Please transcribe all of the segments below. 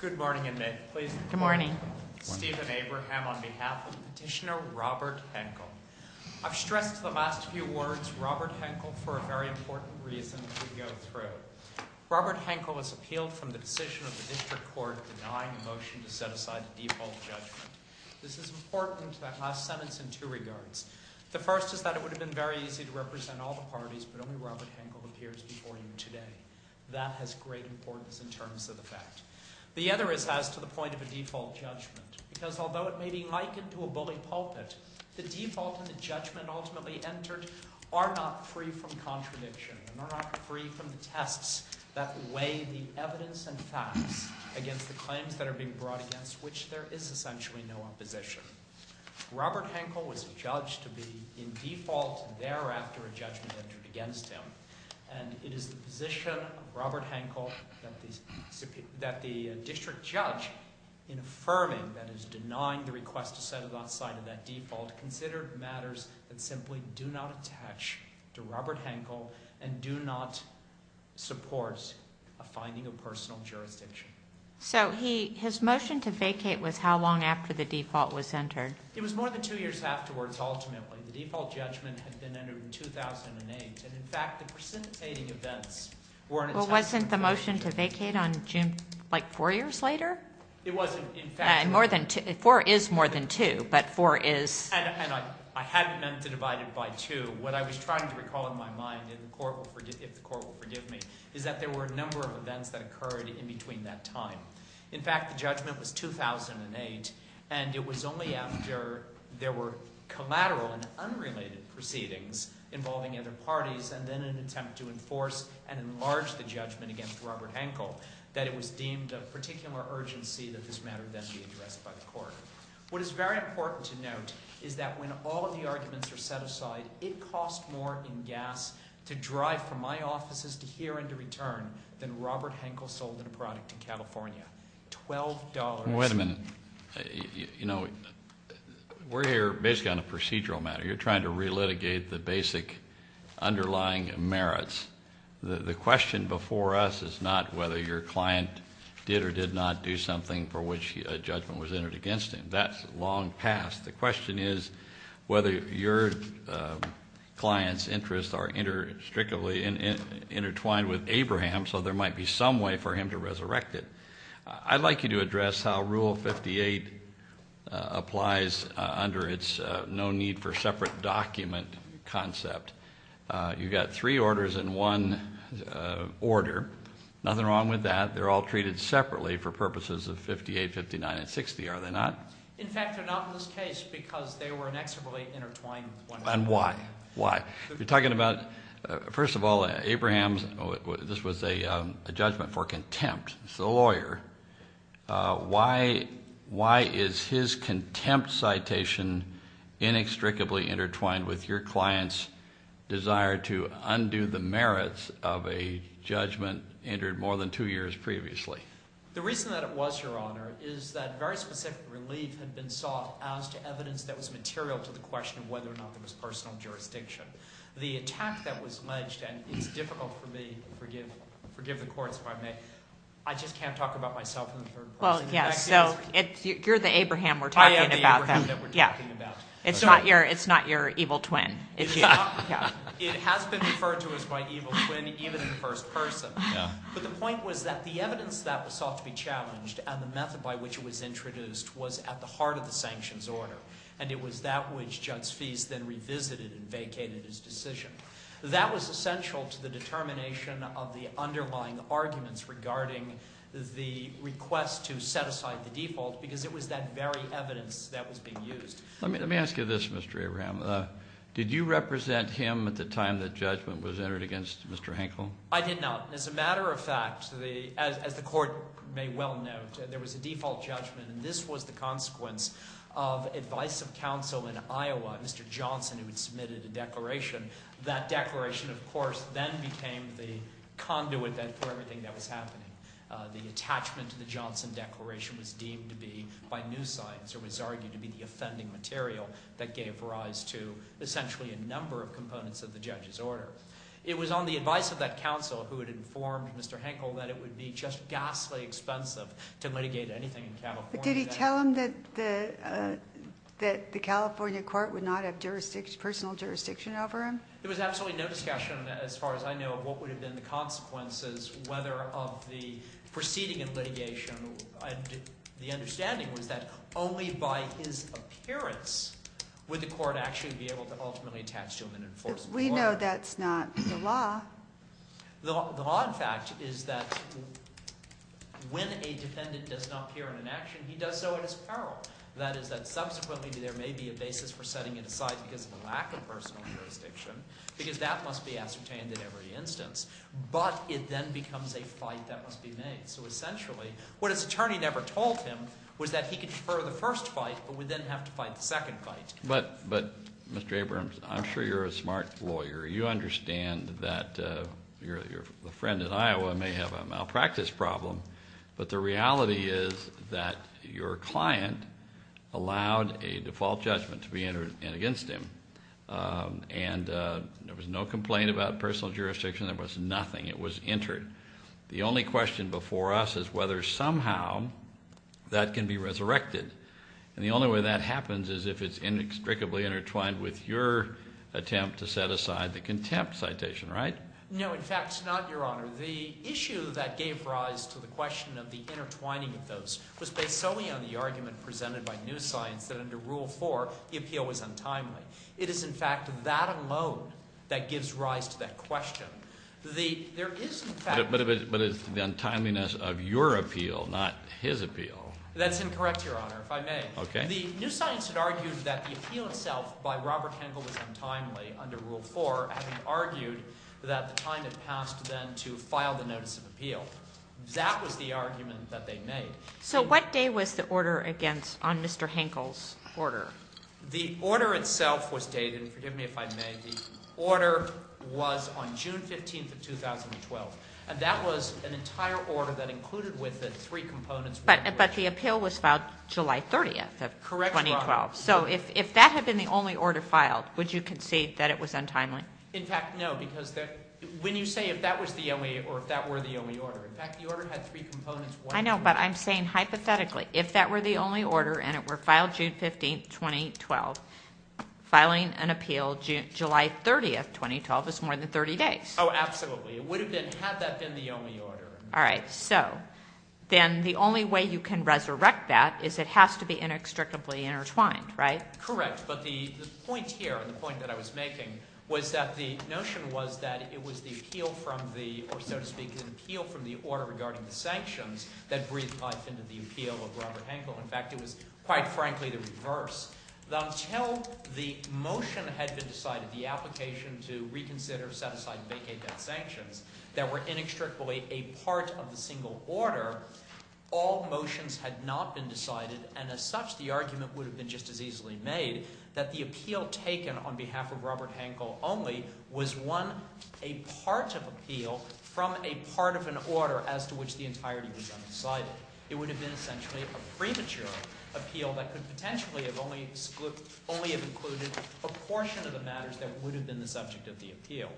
Good morning, and may it please the Good morning. Stephen Abraham on behalf of Petitioner Robert Henkel. I've stressed the last few words, Robert Henkel, for a very important reason as we go through. Robert Henkel has appealed from the decision of the District Court denying a motion to set aside a default judgment. This is important to that last sentence in two regards. The first is that it would have been very easy to represent all the parties, but only Robert Henkel appears before you today. That has great importance in terms of the fact. The other is as to the point of a default judgment, because although it may be likened to a bully pulpit, the default and the judgment ultimately entered are not free from contradiction, and are not free from the tests that weigh the evidence and facts against the claims that are being brought against, which there is essentially no opposition. Robert Henkel was judged to be in default thereafter a judgment entered against him, and it is the position of Robert Henkel that the district judge in affirming that is denying the request to set aside that default consider matters that simply do not attach to Robert Henkel and do not support a finding of personal jurisdiction. So his motion to vacate was how long after the default was entered? It was more than two years afterwards, ultimately. The default judgment had been entered in 2008, and, in fact, the precipitating events were an attempt to Well, wasn't the motion to vacate on June, like, four years later? It wasn't. More than two. Four is more than two, but four is And I hadn't meant to divide it by two. What I was trying to recall in my mind, if the court will forgive me, is that there were a number of events that occurred in between that time. In fact, the judgment was 2008, and it was only after there were collateral and unrelated proceedings involving other parties and then an attempt to enforce and enlarge the judgment against Robert Henkel that it was deemed of particular urgency that this matter then be addressed by the court. What is very important to note is that when all of the arguments are set aside, it cost more in gas to drive from my offices to here and to return than Robert Henkel sold in a product in California. $12 Wait a minute. You know, we're here basically on a procedural matter. You're trying to relitigate the basic underlying merits. The question before us is not whether your client did or did not do something for which a judgment was entered against him. That's long past. The question is whether your client's interests are strictly intertwined with Abraham's, so there might be some way for him to resurrect it. I'd like you to address how Rule 58 applies under its no need for separate document concept. You've got three orders in one order. Nothing wrong with that. They're all treated separately for purposes of 58, 59, and 60, are they not? In fact, they're not in this case because they were inextricably intertwined. And why? Why? You're talking about – first of all, Abraham's – this was a judgment for contempt. It's the lawyer. Why is his contempt citation inextricably intertwined with your client's desire to undo the merits of a judgment entered more than two years previously? The reason that it was, Your Honor, is that very specific relief had been sought as to evidence that was material to the question of whether or not there was personal jurisdiction. The attack that was alleged – and it's difficult for me to forgive the courts if I may. I just can't talk about myself in the third person. Well, yes. You're the Abraham we're talking about. I am the Abraham that we're talking about. It's not your evil twin. It has been referred to as my evil twin even in the first person. But the point was that the evidence that was sought to be challenged and the method by which it was introduced was at the heart of the sanctions order. And it was that which Judge Feist then revisited and vacated his decision. That was essential to the determination of the underlying arguments regarding the request to set aside the default because it was that very evidence that was being used. Let me ask you this, Mr. Abraham. Did you represent him at the time that judgment was entered against Mr. Henkel? I did not. As a matter of fact, as the court may well note, there was a default judgment, and this was the consequence of advice of counsel in Iowa, Mr. Johnson, who had submitted a declaration. That declaration, of course, then became the conduit for everything that was happening. The attachment to the Johnson declaration was deemed to be by new science or was argued to be the offending material that gave rise to essentially a number of components of the judge's order. It was on the advice of that counsel who had informed Mr. Henkel that it would be just ghastly expensive to litigate anything in California. But did he tell him that the California court would not have jurisdiction, personal jurisdiction over him? There was absolutely no discussion, as far as I know, of what would have been the consequences, whether of the proceeding and litigation. The understanding was that only by his appearance would the court actually be able to ultimately attach to him an enforceable order. We know that's not the law. The law, in fact, is that when a defendant does not appear in an action, he does so at his peril. That is that subsequently there may be a basis for setting it aside because of a lack of personal jurisdiction, because that must be ascertained in every instance. But it then becomes a fight that must be made. So essentially, what his attorney never told him was that he could defer the first fight, but would then have to fight the second fight. But Mr. Abrams, I'm sure you're a smart lawyer. You understand that your friend in Iowa may have a malpractice problem, but the reality is that your client allowed a default judgment to be entered in against him. And there was no complaint about personal jurisdiction. There was nothing. It was entered. The only question before us is whether somehow that can be resurrected. And the only way that happens is if it's inextricably intertwined with your attempt to set aside the contempt citation, right? No, in fact, it's not, Your Honor. The issue that gave rise to the question of the intertwining of those was based solely on the argument presented by new science that under Rule 4, the appeal was untimely. It is, in fact, that alone that gives rise to that question. There is, in fact— But it's the untimeliness of your appeal, not his appeal. That's incorrect, Your Honor, if I may. The new science had argued that the appeal itself by Robert Henkel was untimely under Rule 4, having argued that the time had passed then to file the notice of appeal. That was the argument that they made. So what day was the order against on Mr. Henkel's order? The order itself was dated—forgive me if I may—the order was on June 15th of 2012. And that was an entire order that included with it three components. But the appeal was filed July 30th of 2012. Correct, Your Honor. So if that had been the only order filed, would you concede that it was untimely? In fact, no, because when you say if that was the only—or if that were the only order—in fact, the order had three components. I know, but I'm saying hypothetically if that were the only order and it were filed June 15th, 2012, filing an appeal July 30th, 2012 is more than 30 days. Oh, absolutely. It would have been—had that been the only order. All right. So then the only way you can resurrect that is it has to be inextricably intertwined, right? Correct. But the point here, the point that I was making, was that the notion was that it was the appeal from the—or, so to speak, the appeal from the order regarding the sanctions that breathed life into the appeal of Robert Henkel. Until the motion had been decided, the application to reconsider, set aside, and vacate that sanctions that were inextricably a part of the single order, all motions had not been decided, and as such, the argument would have been just as easily made that the appeal taken on behalf of Robert Henkel only was one—a part of appeal from a part of an order as to which the entirety was undecided. It would have been essentially a premature appeal that could potentially have only—only have included a portion of the matters that would have been the subject of the appeal.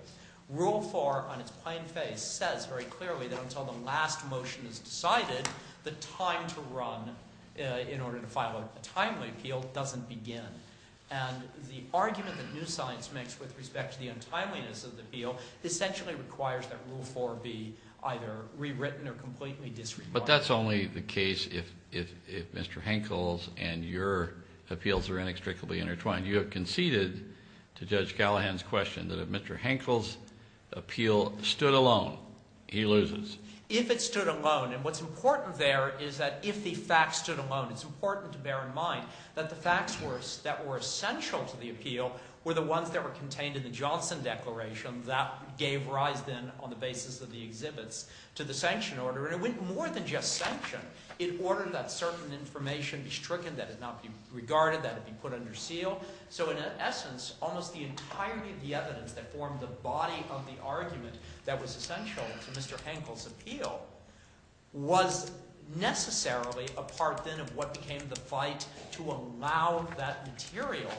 Rule 4 on its plain face says very clearly that until the last motion is decided, the time to run in order to file a timely appeal doesn't begin. And the argument that new science makes with respect to the untimeliness of the appeal essentially requires that Rule 4 be either rewritten or completely disregarded. But that's only the case if Mr. Henkel's and your appeals are inextricably intertwined. You have conceded to Judge Gallagher's question that if Mr. Henkel's appeal stood alone, he loses. If it stood alone, and what's important there is that if the facts stood alone, it's important to bear in mind that the facts that were essential to the appeal were the ones that were contained in the Johnson Declaration that gave rise then on the basis of the exhibits to the sanction order. And it went more than just sanction. It ordered that certain information be stricken, that it not be regarded, that it be put under seal. So in essence, almost the entirety of the evidence that formed the body of the argument that was essential to Mr. Henkel's appeal was necessarily a part then of what became the fight to allow that material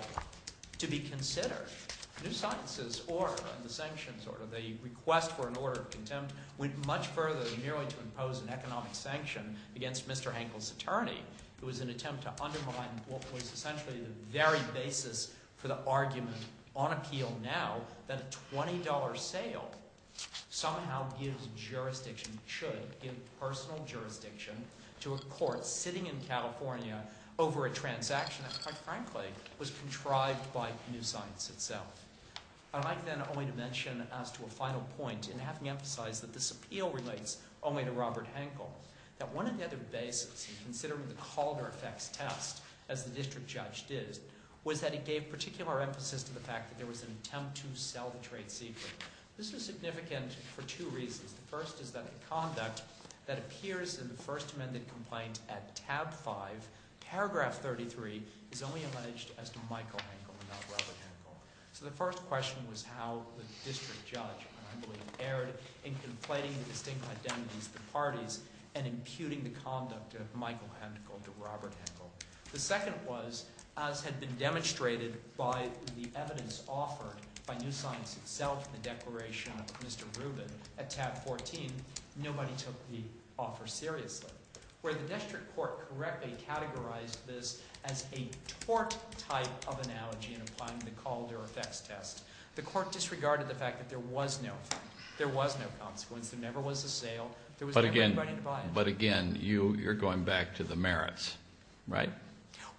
to be considered. New science's order and the sanction's order, the request for an order of contempt, went much further than merely to impose an economic sanction against Mr. Henkel's attorney who was an attempt to undermine what was essentially the very basis for the argument on appeal now that a $20 sale somehow gives jurisdiction, should give personal jurisdiction to a court sitting in California over a transaction that quite frankly was contrived by new science itself. I'd like then only to mention as to a final point in having emphasized that this appeal relates only to Robert Henkel, that one of the other bases in considering the Calder effects test, as the district judge did, was that it gave particular emphasis to the fact that there was an attempt to sell the trade secret. This was significant for two reasons. The first is that the conduct that appears in the first amended complaint at tab 5, paragraph 33, is only alleged as to Michael Henkel and not Robert Henkel. So the first question was how the district judge, I believe, erred in conflating the distinct identities of the parties and imputing the conduct of Michael Henkel to Robert Henkel. The second was, as had been demonstrated by the evidence offered by new science itself in the declaration of Mr. Rubin at tab 14, nobody took the offer seriously. Where the district court correctly categorized this as a tort type of analogy in applying the Calder effects test, the court disregarded the fact that there was no fine, there was no consequence, there never was a sale, there was never anybody to buy it. But again, you're going back to the merits, right?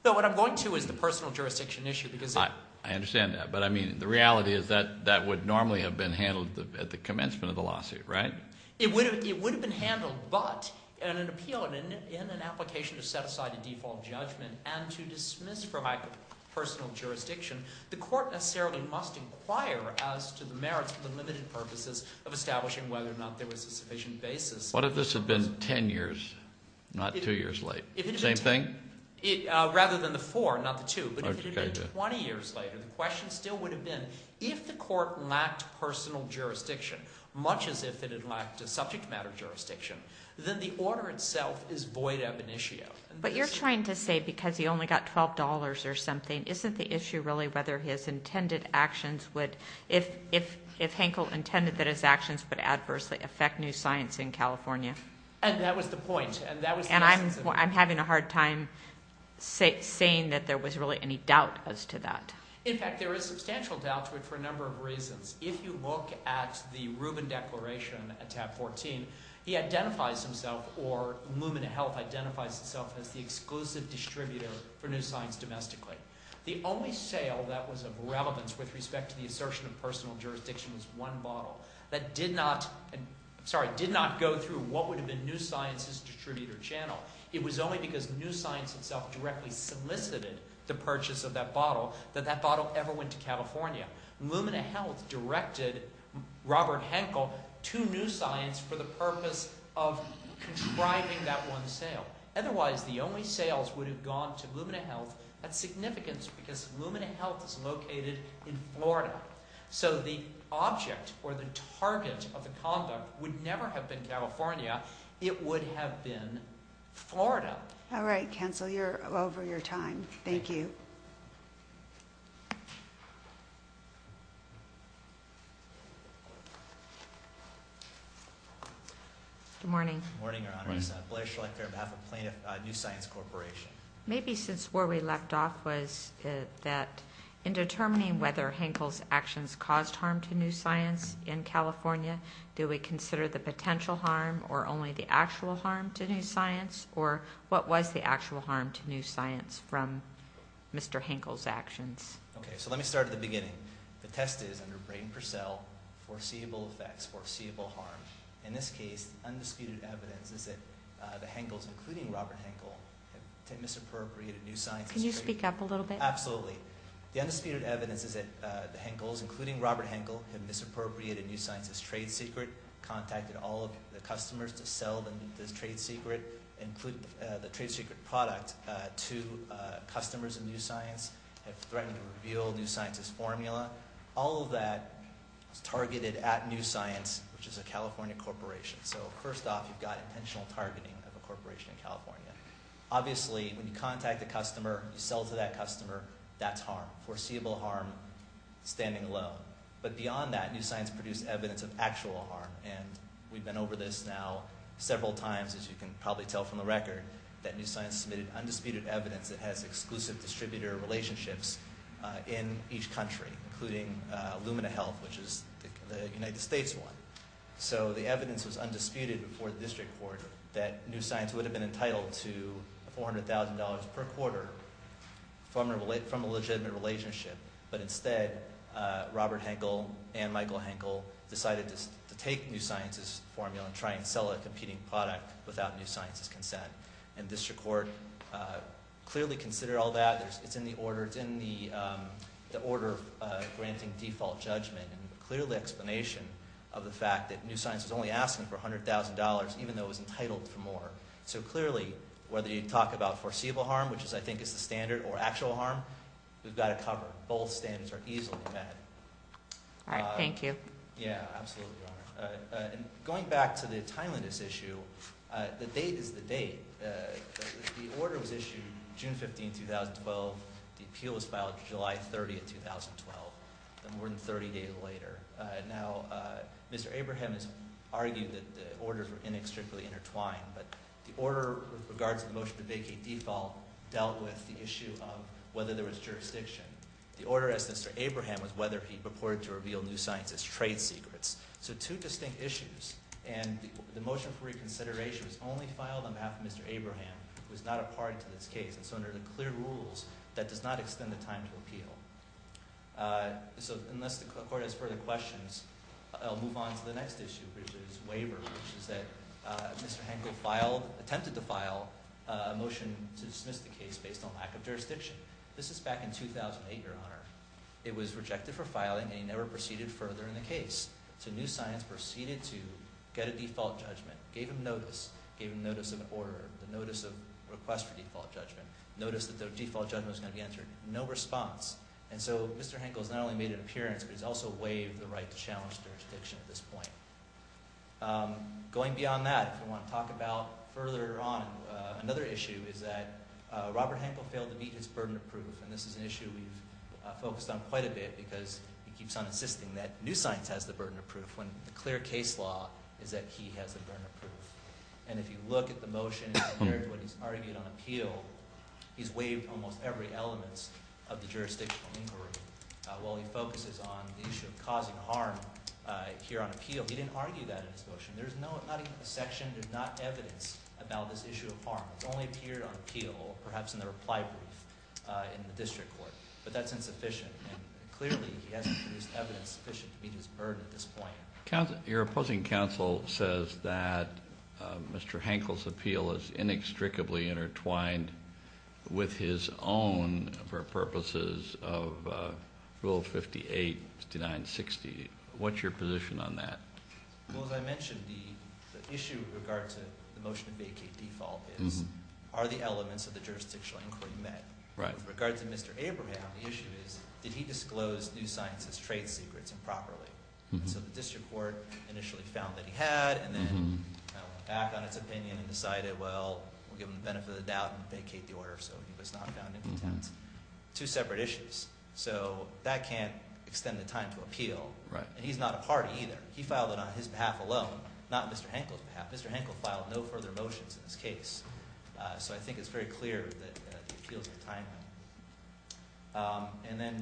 No, what I'm going to is the personal jurisdiction issue because- I understand that, but I mean the reality is that that would normally have been handled at the commencement of the lawsuit, right? It would have been handled, but in an appeal, in an application to set aside a default judgment and to dismiss for lack of personal jurisdiction, the court necessarily must inquire as to the merits for the limited purposes of establishing whether or not there was a sufficient basis. What if this had been 10 years, not 2 years late? Same thing? Rather than the 4, not the 2, but if it had been 20 years later, the question still would have been, if the court lacked personal jurisdiction, much as if it had lacked a subject matter jurisdiction, then the order itself is void ab initio. But you're trying to say because he only got $12 or something, isn't the issue really whether his intended actions would- if Hankel intended that his actions would adversely affect new science in California? And that was the point, and that was- And I'm having a hard time saying that there was really any doubt as to that. In fact, there is substantial doubt to it for a number of reasons. If you look at the Rubin Declaration at tab 14, he identifies himself, or Lumen Health identifies itself as the exclusive distributor for new science domestically. The only sale that was of relevance with respect to the assertion of personal jurisdiction was one bottle that did not- I'm sorry, did not go through what would have been new science's distributor channel. It was only because new science itself directly solicited the purchase of that bottle that that bottle ever went to California. Lumen Health directed Robert Hankel to new science for the purpose of contriving that one sale. Otherwise, the only sales would have gone to Lumen Health at significance because Lumen Health is located in Florida. So the object or the target of the conduct would never have been California. It would have been Florida. All right, Counselor, you're over your time. Thank you. Thank you. Good morning. Good morning, Your Honors. Blair Schleicher on behalf of New Science Corporation. Maybe since where we left off was that in determining whether Hankel's actions caused harm to new science in California, do we consider the potential harm or only the actual harm to new science? Or what was the actual harm to new science from Mr. Hankel's actions? Okay, so let me start at the beginning. The test is under Brayton Purcell, foreseeable effects, foreseeable harm. In this case, undisputed evidence is that the Hankels, including Robert Hankel, have misappropriated new science's trade- Can you speak up a little bit? Absolutely. The undisputed evidence is that the Hankels, including Robert Hankel, have misappropriated new science's trade secret, contacted all of the customers to sell the trade secret product to customers of new science, have threatened to reveal new science's formula. All of that is targeted at New Science, which is a California corporation. So first off, you've got intentional targeting of a corporation in California. Obviously, when you contact a customer, you sell to that customer, that's harm. Foreseeable harm, standing alone. But beyond that, New Science produced evidence of actual harm. And we've been over this now several times, as you can probably tell from the record, that New Science submitted undisputed evidence that has exclusive distributor relationships in each country, including Lumina Health, which is the United States one. So the evidence was undisputed before the district court that New Science would have been entitled to $400,000 per quarter from a legitimate relationship. But instead, Robert Hankel and Michael Hankel decided to take New Science's formula and try and sell a competing product without New Science's consent. And district court clearly considered all that. It's in the order granting default judgment and clearly explanation of the fact that New Science was only asking for $100,000, even though it was entitled for more. So clearly, whether you talk about foreseeable harm, which I think is the standard, or actual harm, we've got to cover. Both standards are easily met. All right. Thank you. Yeah, absolutely, Your Honor. And going back to the timeliness issue, the date is the date. The order was issued June 15, 2012. The appeal was filed July 30, 2012. More than 30 days later. Now, Mr. Abraham has argued that the orders were inextricably intertwined. But the order with regards to the motion to vacate default dealt with the issue of whether there was jurisdiction. The order as to Mr. Abraham was whether he purported to reveal New Science's trade secrets. So two distinct issues. And the motion for reconsideration was only filed on behalf of Mr. Abraham, who is not a party to this case. And so under the clear rules, that does not extend the time to appeal. So unless the Court has further questions, I'll move on to the next issue, which is waiver, which is that Mr. Hankel attempted to file a motion to dismiss the case based on lack of jurisdiction. This is back in 2008, Your Honor. It was rejected for filing, and he never proceeded further in the case. So New Science proceeded to get a default judgment, gave him notice, gave him notice of an order, the notice of request for default judgment, notice that the default judgment was going to be entered. No response. And so Mr. Hankel has not only made an appearance, but he's also waived the right to challenge jurisdiction at this point. Going beyond that, if we want to talk about further on, another issue is that Robert Hankel failed to meet his burden of proof. And this is an issue we've focused on quite a bit because he keeps on insisting that New Science has the burden of proof when the clear case law is that he has the burden of proof. And if you look at the motion compared to what he's argued on appeal, he's waived almost every element of the jurisdictional inquiry. While he focuses on the issue of causing harm here on appeal, he didn't argue that in his motion. There's not even a section, there's not evidence about this issue of harm. It's only appeared on appeal, perhaps in the reply brief in the district court. But that's insufficient, and clearly he hasn't produced evidence sufficient to meet his burden at this point. Your opposing counsel says that Mr. Hankel's appeal is inextricably intertwined with his own for purposes of Rule 58, 59, 60. What's your position on that? Well, as I mentioned, the issue with regard to the motion to vacate default is, are the elements of the jurisdictional inquiry met? With regard to Mr. Abraham, the issue is, did he disclose New Science's trade secrets improperly? So the district court initially found that he had, and then went back on its opinion and decided, well, we'll give him the benefit of the doubt and vacate the order. So he was not found infotent. Two separate issues. So that can't extend the time to appeal. And he's not a party either. He filed it on his behalf alone, not Mr. Hankel's behalf. Mr. Hankel filed no further motions in this case. So I think it's very clear that the appeals are timely. And then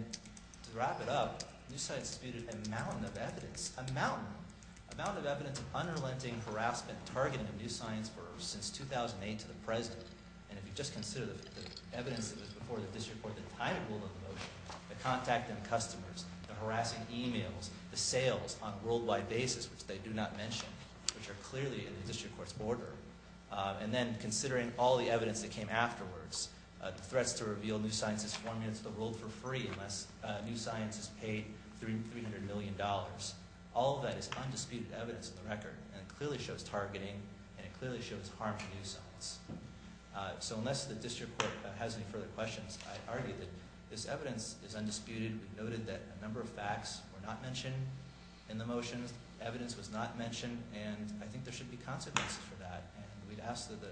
to wrap it up, New Science disputed a mountain of evidence, a mountain, a mountain of evidence of unrelenting harassment targeted at New Science Burroughs since 2008 to the present. And if you just consider the evidence that was before the district court the time it ruled on the motion, the contact and customers, the harassing emails, the sales on a worldwide basis, which they do not mention, which are clearly in the district court's order. And then considering all the evidence that came afterwards, threats to reveal New Science's formula to the world for free unless New Science is paid $300 million. All of that is undisputed evidence in the record, and it clearly shows targeting, and it clearly shows harm to New Science. So unless the district court has any further questions, I argue that this evidence is undisputed. We noted that a number of facts were not mentioned in the motions. Evidence was not mentioned. And I think there should be consequences for that. And we'd ask that the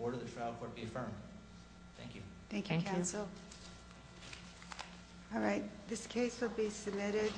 order of the trial court be affirmed. Thank you. Thank you, counsel. All right, this case will be submitted.